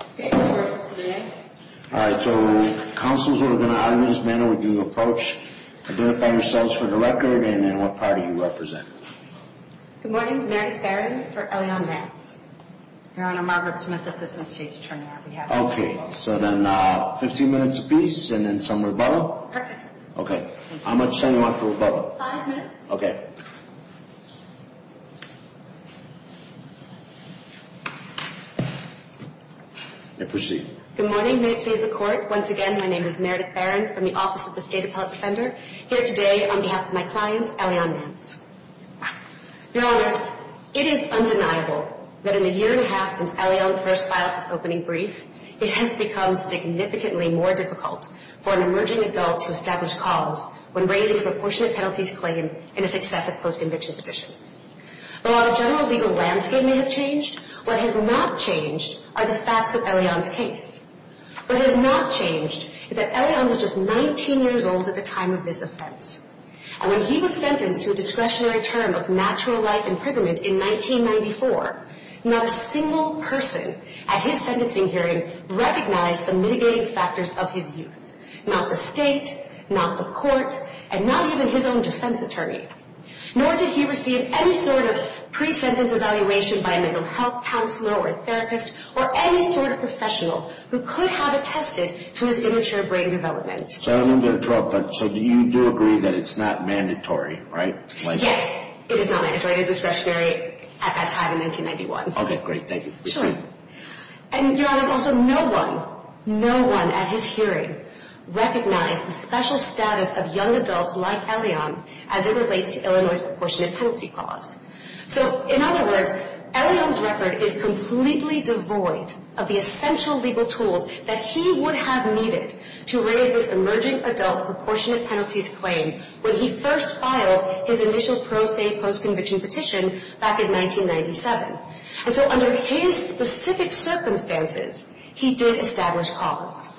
All right. So, councils, we're going to audience manner when you approach. Identify yourselves for the record and then what party you represent. Good morning. Mary Barron for Elion Nance. Your Honor, Margaret Smith, assistant chief attorney on behalf of Elion Nance. Okay. So then 15 minutes apiece and then somewhere above? Perfect. Okay. How much time do you want for above? Five minutes. Okay. And proceed. Good morning. May it please the Court. Once again, my name is Meredith Barron from the Office of the State Appellate Defender. Here today on behalf of my client, Elion Nance. Your Honors, it is undeniable that in the year and a half since Elion first filed his opening brief, it has become significantly more difficult for an emerging adult to establish cause when raising a proportionate penalties claim in a successive post-conviction petition. While the general legal landscape may have changed, what has not changed are the facts of Elion's case. What has not changed is that Elion was just 19 years old at the time of this offense. And when he was sentenced to a discretionary term of natural life imprisonment in 1994, not a single person at his sentencing hearing recognized the mitigating factors of his use. Not the state, not the court, and not even his own defense attorney. Nor did he receive any sort of pre-sentence evaluation by a mental health counselor or therapist or any sort of professional who could have attested to his immature brain development. So I don't mean to interrupt, but you do agree that it's not mandatory, right? Yes, it is not mandatory. It is discretionary at that time in 1991. Okay, great. Thank you. Proceed. And there was also no one, no one at his hearing recognized the special status of young adults like Elion as it relates to Illinois' proportionate penalty clause. So, in other words, Elion's record is completely devoid of the essential legal tools that he would have needed to raise this emerging adult proportionate penalties claim when he first filed his initial pro se post-conviction petition back in 1997. And so under his specific circumstances, he did establish cause.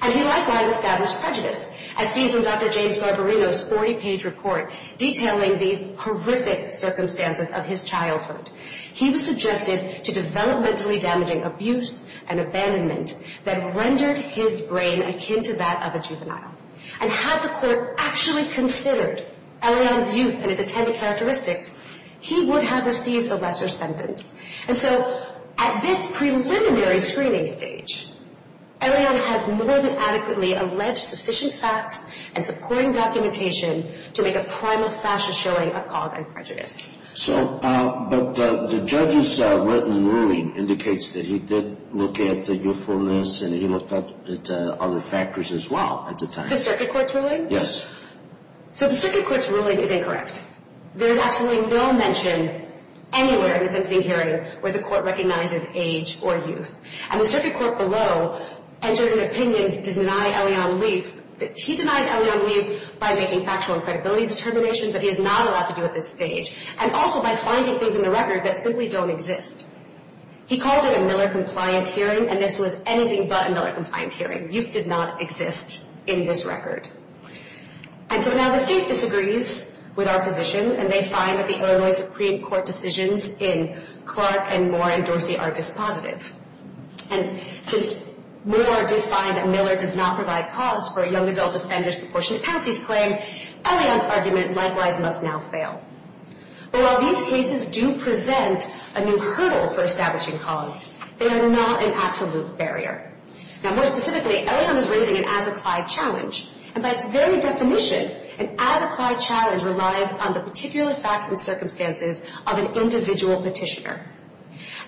And he likewise established prejudice, as seen from Dr. James Barberino's 40-page report detailing the horrific circumstances of his childhood. He was subjected to developmentally damaging abuse and abandonment that rendered his brain akin to that of a juvenile. And had the court actually considered Elion's youth and its attendant characteristics, he would have received a lesser sentence. And so at this preliminary screening stage, Elion has more than adequately alleged sufficient facts and supporting documentation to make a primal fashion showing of cause and prejudice. So, but the judge's written ruling indicates that he did look at the youthfulness and he looked at other factors as well at the time. The circuit court's ruling? Yes. So the circuit court's ruling is incorrect. There is absolutely no mention anywhere in the sentencing hearing where the court recognizes age or youth. And the circuit court below entered an opinion to deny Elion Leaf. He denied Elion Leaf by making factual and credibility determinations that he is not allowed to do at this stage and also by finding things in the record that simply don't exist. He called it a Miller-compliant hearing and this was anything but a Miller-compliant hearing. Youth did not exist in this record. And so now the state disagrees with our position and they find that the Illinois Supreme Court decisions in Clark and Moore and Dorsey are dispositive. And since Moore did find that Miller does not provide cause for a young adult offender's proportionate penalties claim, Elion's argument likewise must now fail. But while these cases do present a new hurdle for establishing cause, they are not an absolute barrier. Now more specifically, Elion is raising an as-applied challenge. And by its very definition, an as-applied challenge relies on the particular facts and circumstances of an individual petitioner.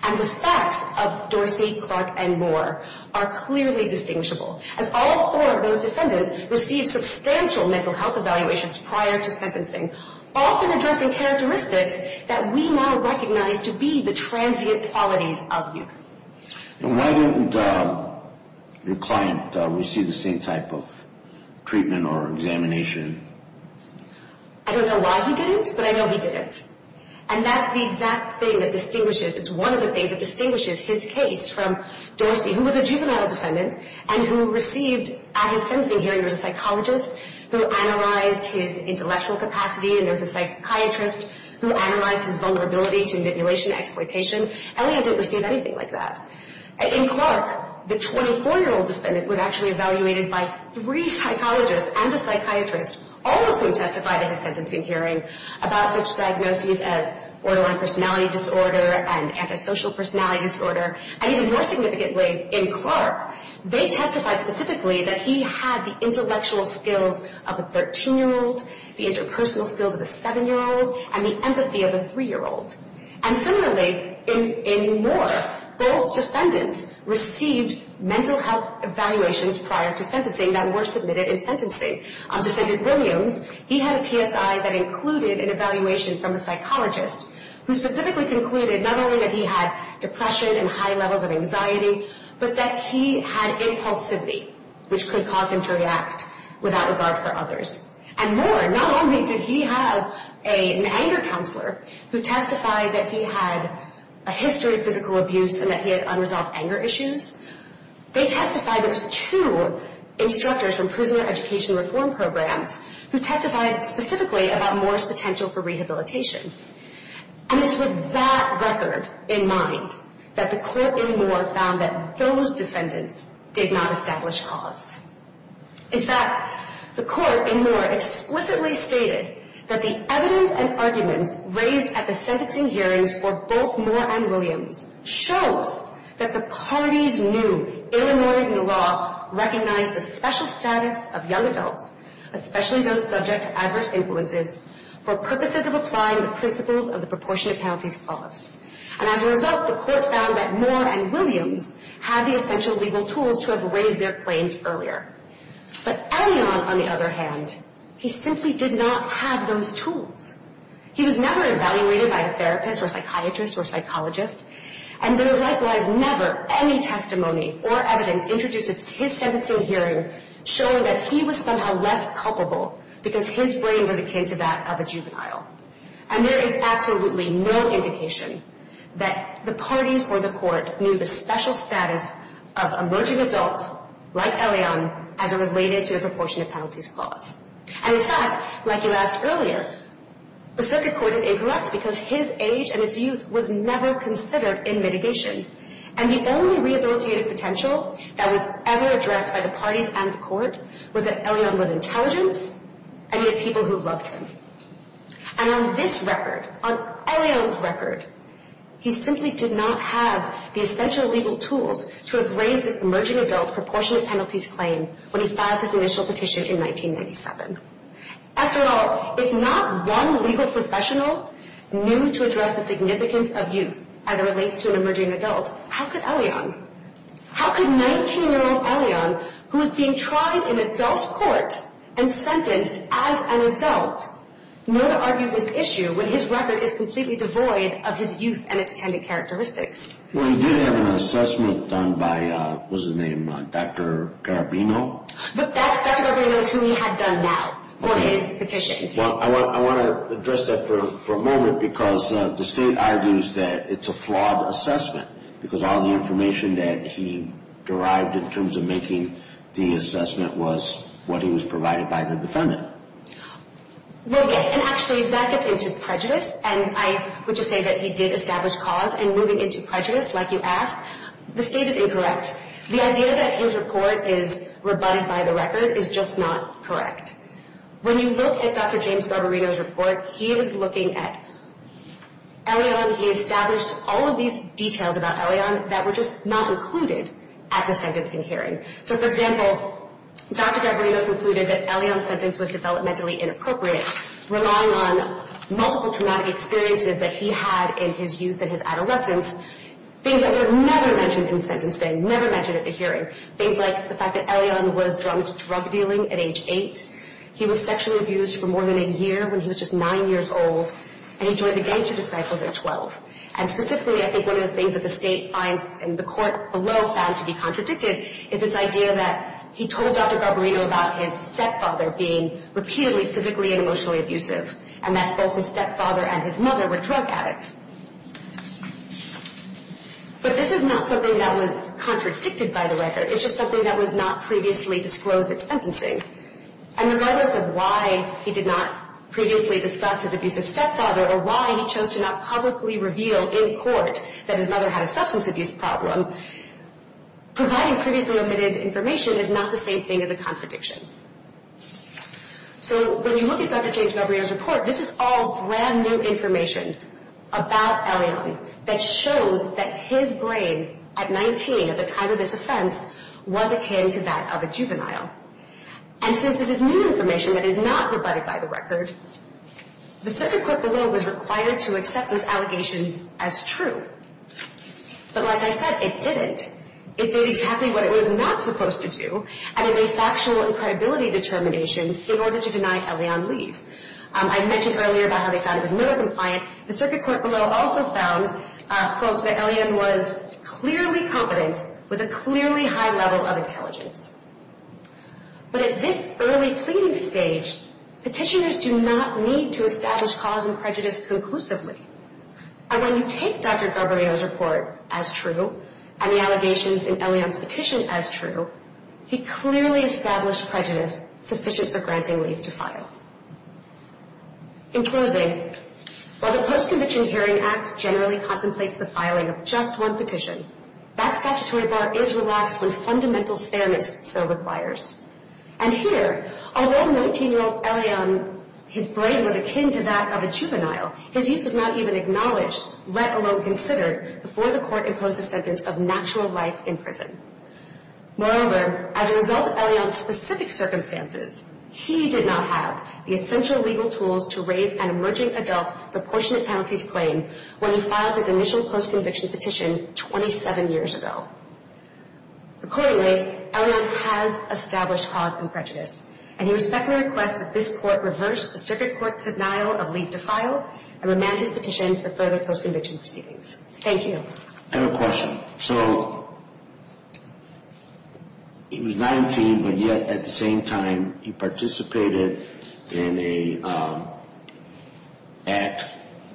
And the facts of Dorsey, Clark, and Moore are clearly distinguishable. As all four of those defendants received substantial mental health evaluations prior to sentencing, often addressing characteristics that we now recognize to be the transient qualities of youth. And why didn't your client receive the same type of treatment or examination? I don't know why he didn't, but I know he didn't. And that's the exact thing that distinguishes, it's one of the things that distinguishes his case from Dorsey, who was a juvenile defendant and who received, at his sentencing hearing, there was a psychologist who analyzed his intellectual capacity, and there was a psychiatrist who analyzed his vulnerability to manipulation, exploitation. Elion didn't receive anything like that. In Clark, the 24-year-old defendant was actually evaluated by three psychologists and a psychiatrist, all of whom testified at his sentencing hearing about such diagnoses as borderline personality disorder and antisocial personality disorder. And even more significantly, in Clark, they testified specifically that he had the intellectual skills of a 13-year-old, the interpersonal skills of a 7-year-old, and the empathy of a 3-year-old. And similarly, in Moore, both defendants received mental health evaluations prior to sentencing that were submitted in sentencing. Defendant Williams, he had a PSI that included an evaluation from a psychologist who specifically concluded not only that he had depression and high levels of anxiety, but that he had impulsivity, which could cause him to react without regard for others. And Moore, not only did he have an anger counselor who testified that he had a history of physical abuse and that he had unresolved anger issues, they testified there was two instructors from prisoner education reform programs who testified specifically about Moore's potential for rehabilitation. And it's with that record in mind that the court in Moore found that those defendants did not establish cause. In fact, the court in Moore explicitly stated that the evidence and arguments raised at the sentencing hearings for both Moore and Williams shows that the parties knew in ignoring the law recognized the special status of young adults, especially those subject to adverse influences, for purposes of applying the principles of the proportionate penalties clause. And as a result, the court found that Moore and Williams had the essential legal tools to have raised their claims earlier. But Elion, on the other hand, he simply did not have those tools. He was never evaluated by a therapist or psychiatrist or psychologist, and there was likewise never any testimony or evidence introduced at his sentencing hearing showing that he was somehow less culpable because his brain was akin to that of a juvenile. And there is absolutely no indication that the parties or the court knew the special status of emerging adults like Elion as related to the proportionate penalties clause. And in fact, like you asked earlier, the circuit court is incorrect because his age and his youth was never considered in mitigation. And the only rehabilitative potential that was ever addressed by the parties and the court was that Elion was intelligent and he had people who loved him. And on this record, on Elion's record, he simply did not have the essential legal tools to have raised his emerging adult proportionate penalties claim when he filed his initial petition in 1997. After all, if not one legal professional knew to address the significance of youth as it relates to an emerging adult, how could Elion? How could 19-year-old Elion, who was being tried in adult court and sentenced as an adult, know to argue this issue when his record is completely devoid of his youth and its attendant characteristics? Well, he did have an assessment done by, what was his name, Dr. Garabino. But Dr. Garabino is who he had done now for his petition. Well, I want to address that for a moment because the state argues that it's a flawed assessment because all the information that he derived in terms of making the assessment was what he was provided by the defendant. Well, yes, and actually that gets into prejudice. And I would just say that he did establish cause. And moving into prejudice, like you asked, the state is incorrect. The idea that his report is rebutted by the record is just not correct. When you look at Dr. James Garabino's report, he is looking at Elion. He established all of these details about Elion that were just not included at the sentencing hearing. So, for example, Dr. Garabino concluded that Elion's sentence was developmentally inappropriate, relying on multiple traumatic experiences that he had in his youth and his adolescence, things that were never mentioned in sentencing, never mentioned at the hearing, things like the fact that Elion was drug dealing at age 8. He was sexually abused for more than a year when he was just 9 years old, and he joined the gangster disciples at 12. And specifically, I think one of the things that the state finds and the court below found to be contradicted is this idea that he told Dr. Garabino about his stepfather being repeatedly physically and emotionally abusive and that both his stepfather and his mother were drug addicts. But this is not something that was contradicted by the record. It's just something that was not previously disclosed at sentencing. And regardless of why he did not previously discuss his abusive stepfather or why he chose to not publicly reveal in court that his mother had a substance abuse problem, providing previously omitted information is not the same thing as a contradiction. So when you look at Dr. James Garabino's report, this is all brand new information about Elion that shows that his brain at 19, at the time of this offense, was akin to that of a juvenile. And since this is new information that is not provided by the record, the circuit court below was required to accept those allegations as true. But like I said, it didn't. It did exactly what it was not supposed to do, and it made factual and credibility determinations in order to deny Elion leave. I mentioned earlier about how they found it was middle-compliant. The circuit court below also found, quote, that Elion was clearly competent with a clearly high level of intelligence. But at this early pleading stage, petitioners do not need to establish cause and prejudice conclusively. And when you take Dr. Garabino's report as true, and the allegations in Elion's petition as true, he clearly established prejudice sufficient for granting leave to file. In closing, while the Post-Conviction Hearing Act generally contemplates the filing of just one petition, that statutory bar is relaxed when fundamental fairness so requires. And here, although 19-year-old Elion, his brain was akin to that of a juvenile, his youth was not even acknowledged, let alone considered, before the court imposed a sentence of natural life in prison. Moreover, as a result of Elion's specific circumstances, he did not have the essential legal tools to raise an emerging adult's proportionate penalties claim when he filed his initial post-conviction petition 27 years ago. Accordingly, Elion has established cause and prejudice, and he respectfully requests that this court reverse the circuit court's denial of leave to file and remand his petition for further post-conviction proceedings. Thank you. I have a question. So he was 19, but yet at the same time he participated in an act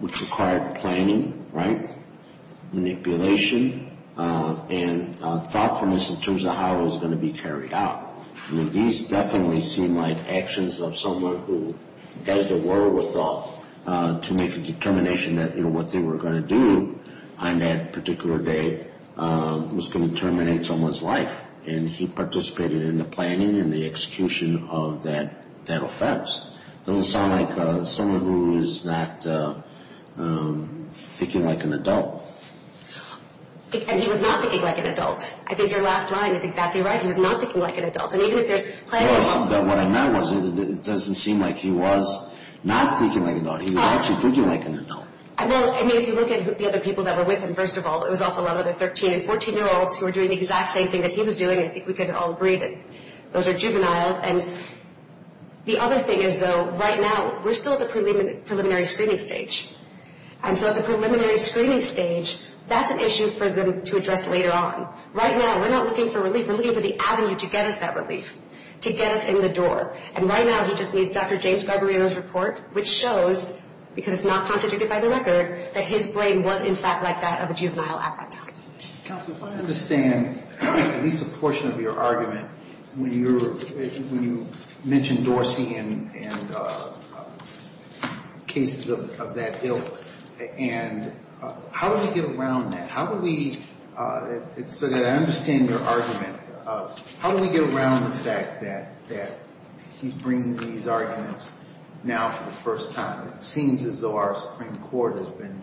which required planning, right? Manipulation and thoughtfulness in terms of how it was going to be carried out. These definitely seem like actions of someone who does the work with thought to make a determination that, you know, what they were going to do on that particular day was going to terminate someone's life. And he participated in the planning and the execution of that offense. It doesn't sound like someone who is not thinking like an adult. And he was not thinking like an adult. I think your last line is exactly right. He was not thinking like an adult. And even if there's planning involved. What I meant was it doesn't seem like he was not thinking like an adult. He was actually thinking like an adult. Well, I mean, if you look at the other people that were with him, first of all, it was also a lot of the 13- and 14-year-olds who were doing the exact same thing that he was doing. I think we can all agree that those are juveniles. And the other thing is, though, right now we're still at the preliminary screening stage. And so at the preliminary screening stage, that's an issue for them to address later on. Right now we're not looking for relief. We're looking for the avenue to get us that relief, to get us in the door. And right now he just needs Dr. James Garbarino's report, which shows, because it's not contradicted by the record, that his brain was, in fact, like that of a juvenile at that time. Counsel, if I understand at least a portion of your argument when you mentioned Dorsey and cases of that ill. And how do we get around that? So that I understand your argument, how do we get around the fact that he's bringing these arguments now for the first time? It seems as though our Supreme Court has been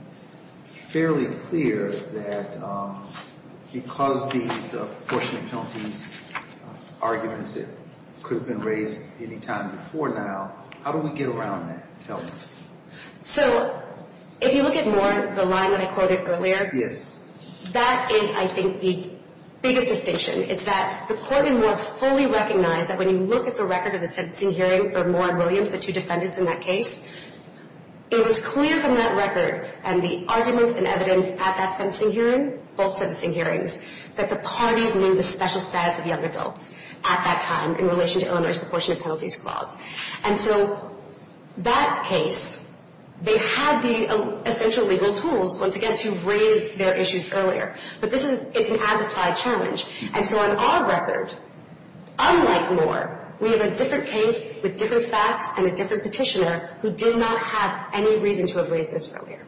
fairly clear that because these apportionment penalties arguments could have been raised any time before now, how do we get around that element? So if you look at Moore, the line that I quoted earlier, that is, I think, the biggest distinction. It's that the court in Moore fully recognized that when you look at the record of the sentencing hearing for Moore and Williams, the two defendants in that case, it was clear from that record and the arguments and evidence at that sentencing hearing, both sentencing hearings, that the parties knew the special status of young adults at that time in relation to Illinois' apportionment penalties clause. And so that case, they had the essential legal tools, once again, to raise their issues earlier. But this is an as-applied challenge. And so on our record, unlike Moore, we have a different case with different facts and a different petitioner who did not have any reason to have raised this earlier.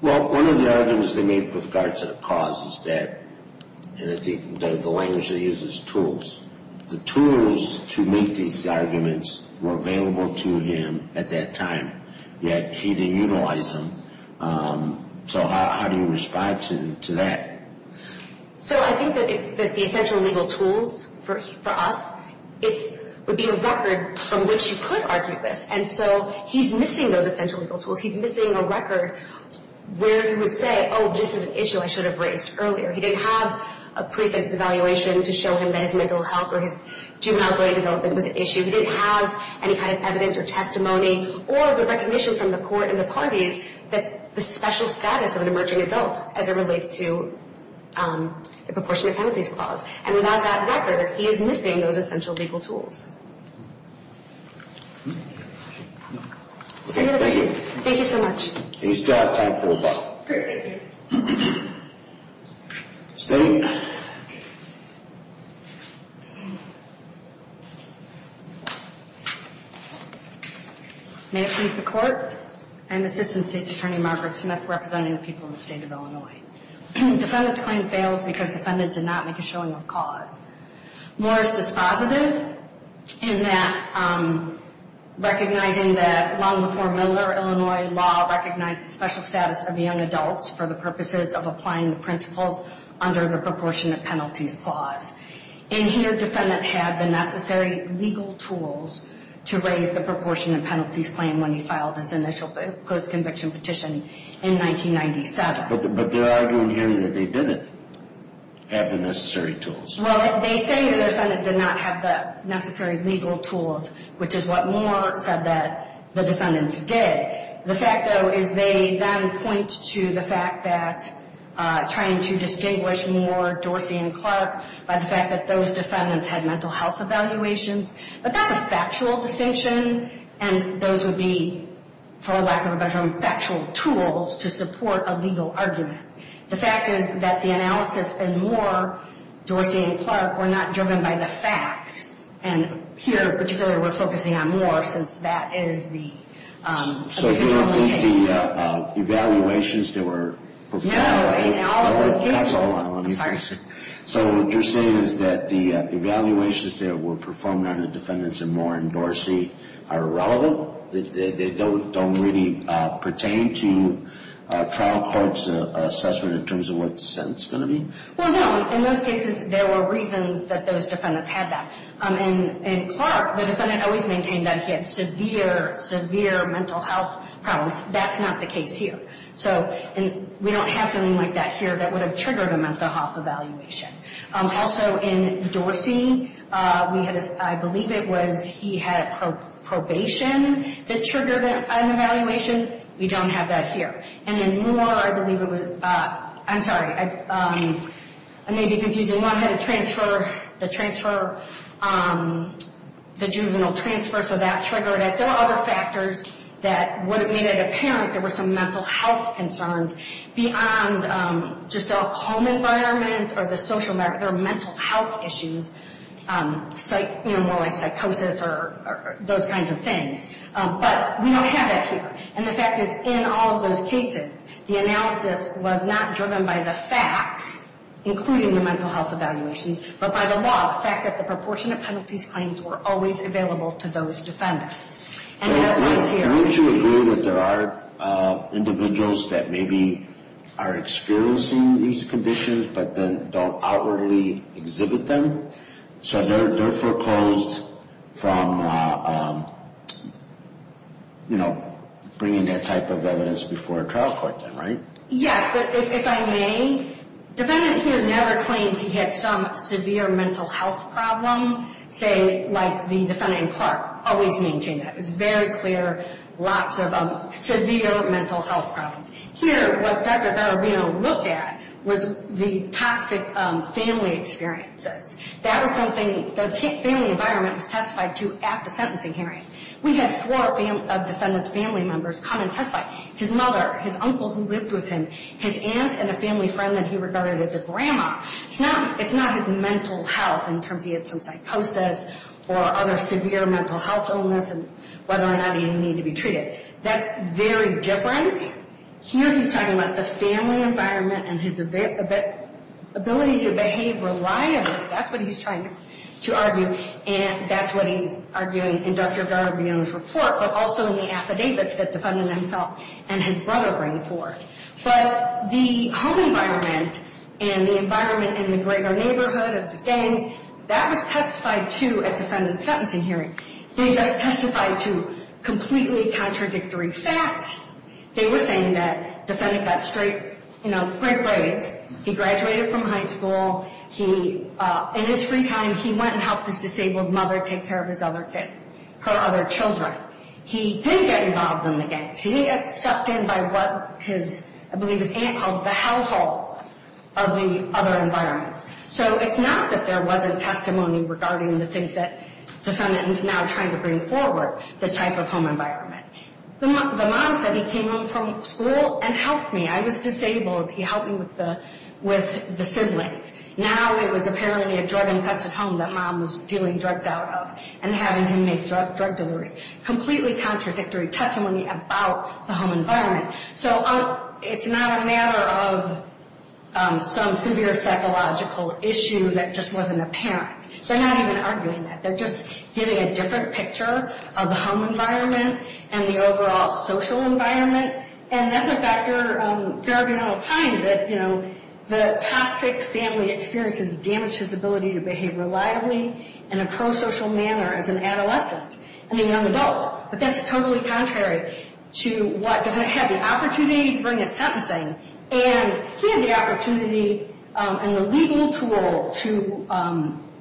Well, one of the arguments they made with regard to the cause is that, and I think the language they used is tools. The tools to make these arguments were available to him at that time, yet he didn't utilize them. So how do you respond to that? So I think that the essential legal tools for us would be a record from which you could argue this. And so he's missing those essential legal tools. He's missing a record where he would say, oh, this is an issue I should have raised earlier. He didn't have a preset evaluation to show him that his mental health or his juvenile grade development was an issue. He didn't have any kind of evidence or testimony or the recognition from the court and the parties that the special status of an emerging adult as it relates to the apportionment penalties clause. And without that record, he is missing those essential legal tools. Any other questions? Thank you so much. We still have time for a vote. State. May it please the Court. I'm Assistant State's Attorney Margaret Smith representing the people of the State of Illinois. Defendant's claim fails because defendant did not make a showing of cause. Morris is positive in that recognizing that long before Miller, Illinois law recognized the special status of young adults for the purposes of applying the principles under the proportionate penalties clause. And here defendant had the necessary legal tools to raise the proportionate penalties claim when he filed his initial post-conviction petition in 1997. But they're arguing here that they didn't have the necessary tools. Well, they say the defendant did not have the necessary legal tools, which is what Moore said that the defendants did. The fact, though, is they then point to the fact that trying to distinguish Moore, Dorsey, and Clark by the fact that those defendants had mental health evaluations. But that's a factual distinction, and those would be, for lack of a better term, factual tools to support a legal argument. The fact is that the analysis in Moore, Dorsey, and Clark were not driven by the facts. And here, particularly, we're focusing on Moore since that is the case. So you don't think the evaluations that were performed? No, in all of those cases. Hold on. I'm sorry. So what you're saying is that the evaluations that were performed on the defendants in Moore and Dorsey are irrelevant? They don't really pertain to trial court's assessment in terms of what the sentence is going to be? Well, no. In those cases, there were reasons that those defendants had that. In Clark, the defendant always maintained that he had severe, severe mental health problems. That's not the case here. So we don't have something like that here that would have triggered a mental health evaluation. Also, in Dorsey, I believe it was he had probation that triggered an evaluation. We don't have that here. And in Moore, I believe it was, I'm sorry, I may be confusing. Moore had a transfer, the transfer, the juvenile transfer, so that triggered it. There were other factors that would have made it apparent there were some mental health concerns beyond just their home environment or their mental health issues, more like psychosis or those kinds of things. But we don't have that here. And the fact is, in all of those cases, the analysis was not driven by the facts, including the mental health evaluations, but by the law, the fact that the proportion of penalties claims were always available to those defendants. And that was here. I mean, would you agree that there are individuals that maybe are experiencing these conditions, but then don't outwardly exhibit them? So they're foreclosed from, you know, bringing that type of evidence before a trial court then, right? Yes, if I may. Defendant here never claims he had some severe mental health problem, say, like the defendant in Clark. Always maintained that. It was very clear, lots of severe mental health problems. Here, what Dr. Garabino looked at was the toxic family experiences. That was something the family environment was testified to at the sentencing hearing. We had four defendants' family members come and testify. His mother, his uncle who lived with him, his aunt and a family friend that he regarded as a grandma. It's not his mental health in terms of he had some psychosis or other severe mental health illness and whether or not he needed to be treated. That's very different. Here he's talking about the family environment and his ability to behave reliably. That's what he's trying to argue, and that's what he's arguing in Dr. Garabino's report, but also in the affidavit that the defendant himself and his brother bring forth. But the home environment and the environment in the greater neighborhood of the gangs, that was testified to at defendant's sentencing hearing. They just testified to completely contradictory facts. They were saying that defendant got straight, you know, great grades. He graduated from high school. He, in his free time, he went and helped his disabled mother take care of his other kid, her other children. He did get involved in the gangs. He did get sucked in by what his, I believe his aunt called the hellhole of the other environments. So it's not that there wasn't testimony regarding the things that defendant is now trying to bring forward, the type of home environment. The mom said he came home from school and helped me. I was disabled. He helped me with the siblings. Now it was apparently a drug-infested home that mom was dealing drugs out of and having him make drug deliveries. Completely contradictory testimony about the home environment. So it's not a matter of some severe psychological issue that just wasn't apparent. So they're not even arguing that. They're just giving a different picture of the home environment and the overall social environment. And then with Dr. Garibaldi, you know, the toxic family experience has damaged his ability to behave reliably in a pro-social manner as an adolescent. And a young adult. But that's totally contrary to what the defendant had the opportunity to bring at sentencing. And he had the opportunity and the legal tool to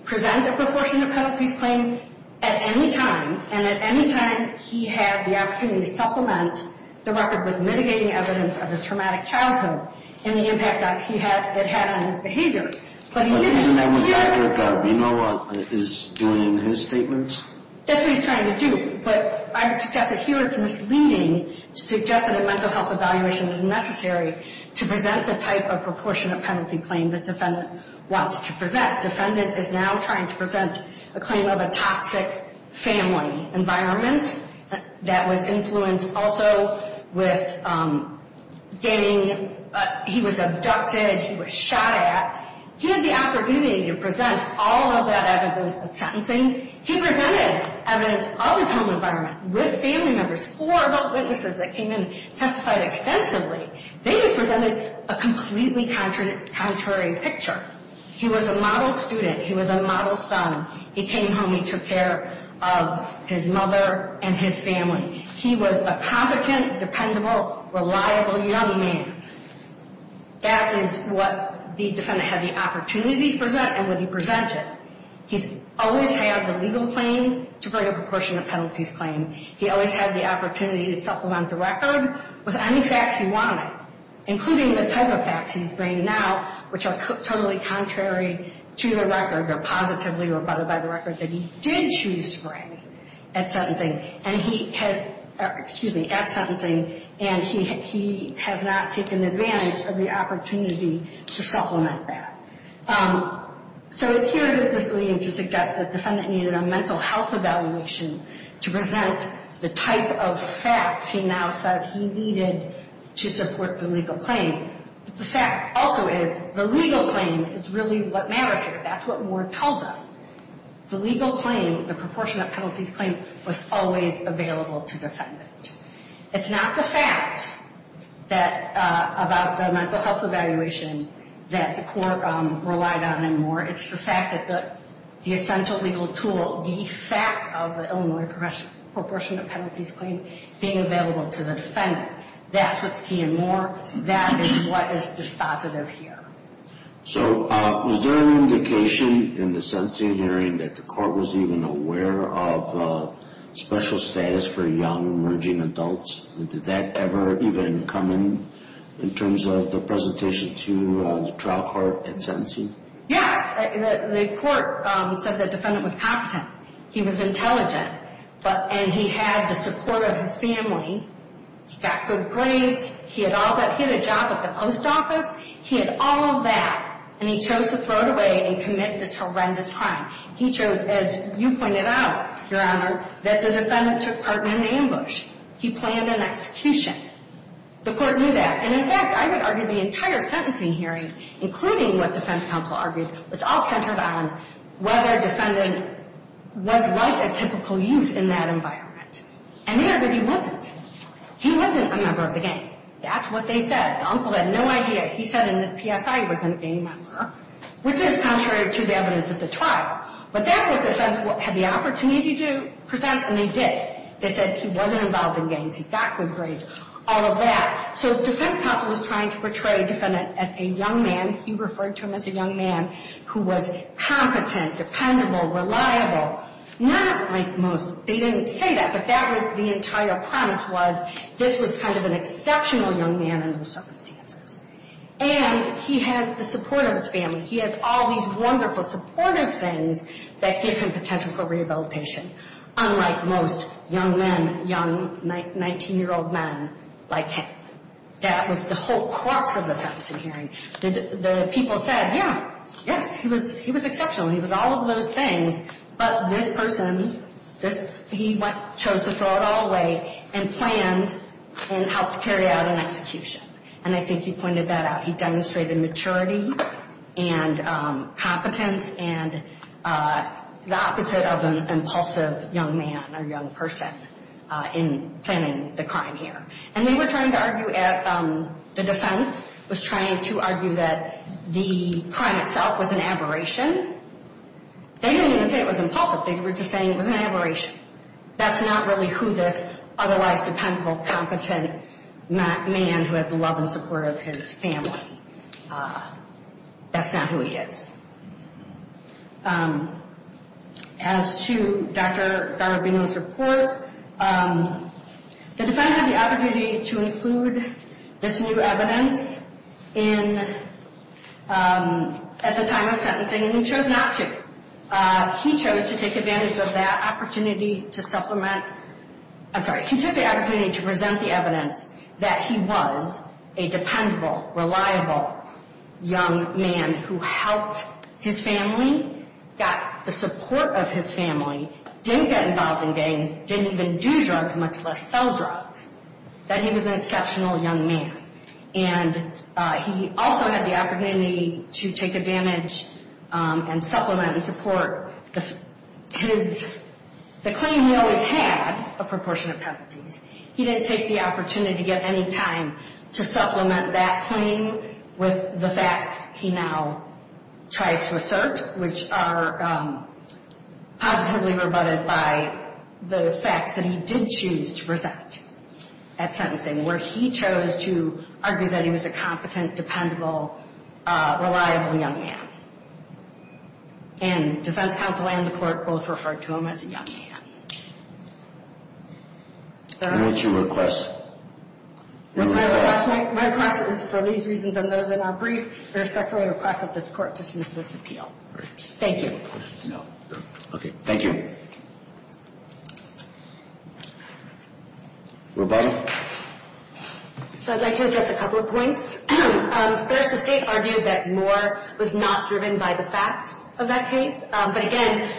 present a proportionate pedigree claim at any time. And at any time he had the opportunity to supplement the record with mitigating evidence of his traumatic childhood and the impact that it had on his behavior. But he didn't. Isn't that what Dr. Garibaldi is doing in his statements? That's what he's trying to do. But I would suggest that here it's misleading to suggest that a mental health evaluation is necessary to present the type of proportionate penalty claim that defendant wants to present. Defendant is now trying to present a claim of a toxic family environment that was influenced also with getting, he was abducted, he was shot at. He had the opportunity to present all of that evidence at sentencing. He presented evidence of his home environment with family members or about witnesses that came in and testified extensively. They just presented a completely contrary picture. He was a model student. He was a model son. He came home. He took care of his mother and his family. He was a competent, dependable, reliable young man. That is what the defendant had the opportunity to present and what he presented. He's always had the legal claim to bring a proportionate penalties claim. He always had the opportunity to supplement the record with any facts he wanted, including the type of facts he's bringing now, which are totally contrary to the record or positively rebutted by the record that he did choose to bring at sentencing. And he has, excuse me, at sentencing, and he has not taken advantage of the opportunity to supplement that. So here it is misleading to suggest that the defendant needed a mental health evaluation to present the type of facts he now says he needed to support the legal claim. But the fact also is the legal claim is really what matters here. That's what Ward tells us. The legal claim, the proportionate penalties claim, was always available to the defendant. It's not the facts about the mental health evaluation that the court relied on anymore. It's the fact that the essential legal tool, the fact of the Illinois proportionate penalties claim being available to the defendant. That's what's key and more. That is what is dispositive here. So was there an indication in the sentencing hearing that the court was even aware of special status for young emerging adults? Did that ever even come in in terms of the presentation to the trial court at sentencing? Yes. The court said the defendant was competent. He was intelligent, and he had the support of his family. He got good grades. He had a job at the post office. He had all of that, and he chose to throw it away and commit this horrendous crime. He chose, as you pointed out, Your Honor, that the defendant took part in an ambush. He planned an execution. The court knew that. And, in fact, I would argue the entire sentencing hearing, including what defense counsel argued, was all centered on whether a defendant was like a typical youth in that environment. And they argued he wasn't. He wasn't a member of the gang. That's what they said. The uncle had no idea. He said in his PSI he was a gang member, which is contrary to the evidence at the trial. But that's what defense had the opportunity to present, and they did. They said he wasn't involved in gangs. He got good grades. All of that. So defense counsel was trying to portray a defendant as a young man. He referred to him as a young man who was competent, dependable, reliable. Not like most. They didn't say that, but that was the entire premise was this was kind of an exceptional young man under those circumstances. And he has the support of his family. He has all these wonderful supportive things that give him potential for rehabilitation. Unlike most young men, young 19-year-old men, like that was the whole crux of the sentencing hearing. The people said, yeah, yes, he was exceptional. He was all of those things. But this person, he chose to throw it all away and planned and helped carry out an execution. And I think he pointed that out. He demonstrated maturity and competence and the opposite of an impulsive young man or young person in planning the crime here. And they were trying to argue at the defense was trying to argue that the crime itself was an aberration. They didn't even say it was impulsive. They were just saying it was an aberration. That's not really who this otherwise dependable, competent man who had the love and support of his family. That's not who he is. As to Dr. Rubino's report, the defendant had the opportunity to include this new evidence at the time of sentencing, and he chose not to. He chose to take advantage of that opportunity to supplement. I'm sorry. He took the opportunity to present the evidence that he was a dependable, reliable young man who helped his family, got the support of his family, didn't get involved in gangs, didn't even do drugs, much less sell drugs, that he was an exceptional young man. And he also had the opportunity to take advantage and supplement and support the claim he always had of proportionate penalties. He didn't take the opportunity at any time to supplement that claim with the facts he now tries to assert, which are positively rebutted by the facts that he did choose to present at sentencing, where he chose to argue that he was a competent, dependable, reliable young man. And defense counsel and the court both referred to him as a young man. Let me ask you a request. My request is for these reasons and those that are brief, respectfully request that this court dismiss this appeal. Thank you. Okay. Thank you. Thank you. Robyn. So I'd like to address a couple of points. First, the State argued that Moore was not driven by the facts of that case. But, again,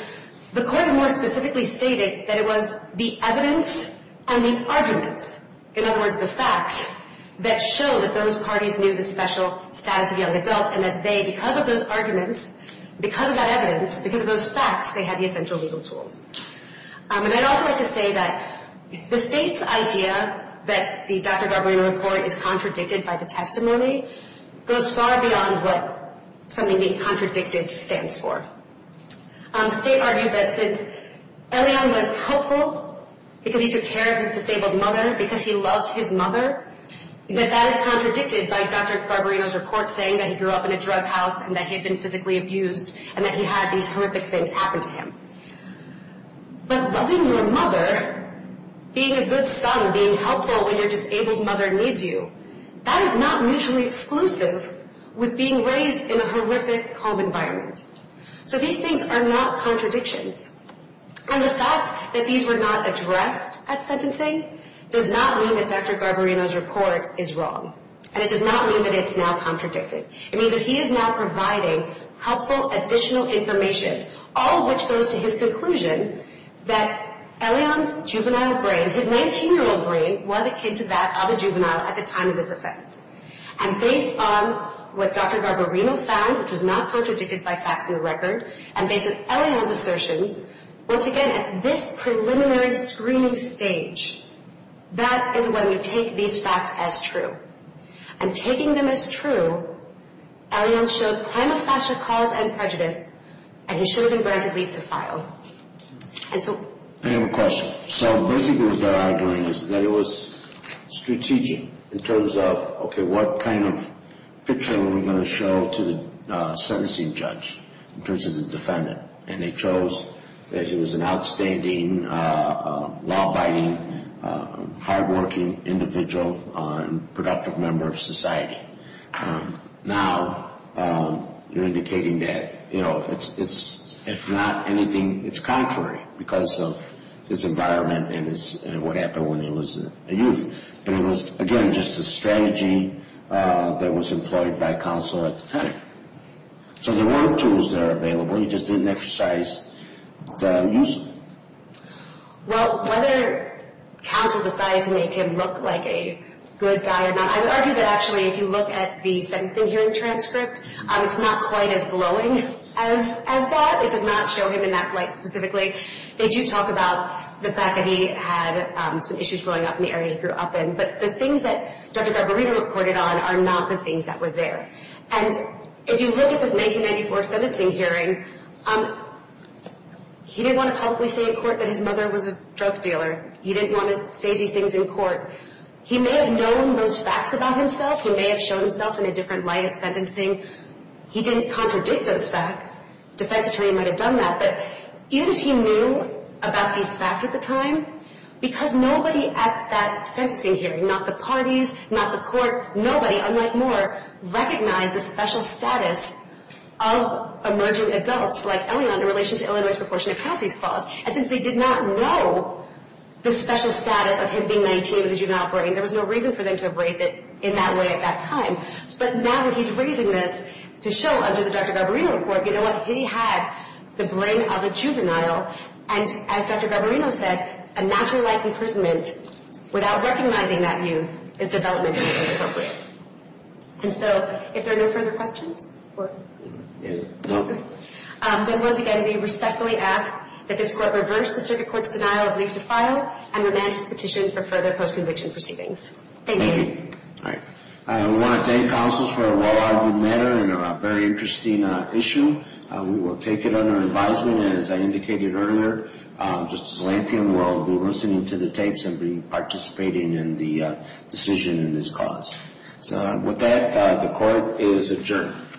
the court more specifically stated that it was the evidence and the arguments, in other words, the facts that show that those parties knew the special status of young adults and that they, because of those arguments, because of that evidence, because of those facts, they had the essential legal tools. And I'd also like to say that the State's idea that the Dr. Barbarino report is contradicted by the testimony goes far beyond what something being contradicted stands for. The State argued that since Elion was helpful, because he took care of his disabled mother, because he loved his mother, that that is contradicted by Dr. Barbarino's report saying that he grew up in a drug house and that he had been physically abused and that he had these horrific things happen to him. But loving your mother, being a good son, being helpful when your disabled mother needs you, that is not mutually exclusive with being raised in a horrific home environment. So these things are not contradictions. And the fact that these were not addressed at sentencing does not mean that Dr. Barbarino's report is wrong. And it does not mean that it's now contradicted. It means that he is now providing helpful additional information, all of which goes to his conclusion that Elion's juvenile brain, his 19-year-old brain, was akin to that of a juvenile at the time of this offense. And based on what Dr. Barbarino found, which was not contradicted by facts in the record, and based on Elion's assertions, once again, at this preliminary screening stage, that is when we take these facts as true. And taking them as true, Elion showed prima facie cause and prejudice, and he should have been granted leave to file. I have a question. So basically what they're arguing is that it was strategic in terms of, okay, what kind of picture are we going to show to the sentencing judge in terms of the defendant? And they chose that he was an outstanding, law-abiding, hardworking individual and productive member of society. Now you're indicating that, you know, it's not anything that's contrary because of his environment and what happened when he was a youth. But it was, again, just a strategy that was employed by counsel at the time. So there were tools that are available. He just didn't exercise them usefully. Well, whether counsel decided to make him look like a good guy or not, I would argue that actually if you look at the sentencing hearing transcript, it's not quite as glowing as that. It does not show him in that light specifically. They do talk about the fact that he had some issues growing up in the area he grew up in. But the things that Dr. Garbarino reported on are not the things that were there. And if you look at this 1994 sentencing hearing, he didn't want to publicly say in court that his mother was a drug dealer. He didn't want to say these things in court. He may have known those facts about himself. He may have shown himself in a different light at sentencing. He didn't contradict those facts. A defense attorney might have done that. But even if he knew about these facts at the time, because nobody at that sentencing hearing, not the parties, not the court, nobody, unlike Moore, recognized the special status of emerging adults like Elion in relation to Illinois' proportionate counties clause. And since they did not know the special status of him being 19 with a juvenile brain, there was no reason for them to have raised it in that way at that time. But now that he's raising this to show under the Dr. Garbarino report, you know what, he had the brain of a juvenile. And as Dr. Garbarino said, a natural life imprisonment without recognizing that youth is developmentally inappropriate. And so if there are no further questions, then once again, we respectfully ask that this court reverse the circuit court's denial of leave to file and remand his petition for further post-conviction proceedings. Thank you. All right. I want to thank counsels for a well-argued matter and a very interesting issue. We will take it under advisement. As I indicated earlier, Justice Lankin will be listening to the tapes and be participating in the decision in this cause. So with that, the court is adjourned.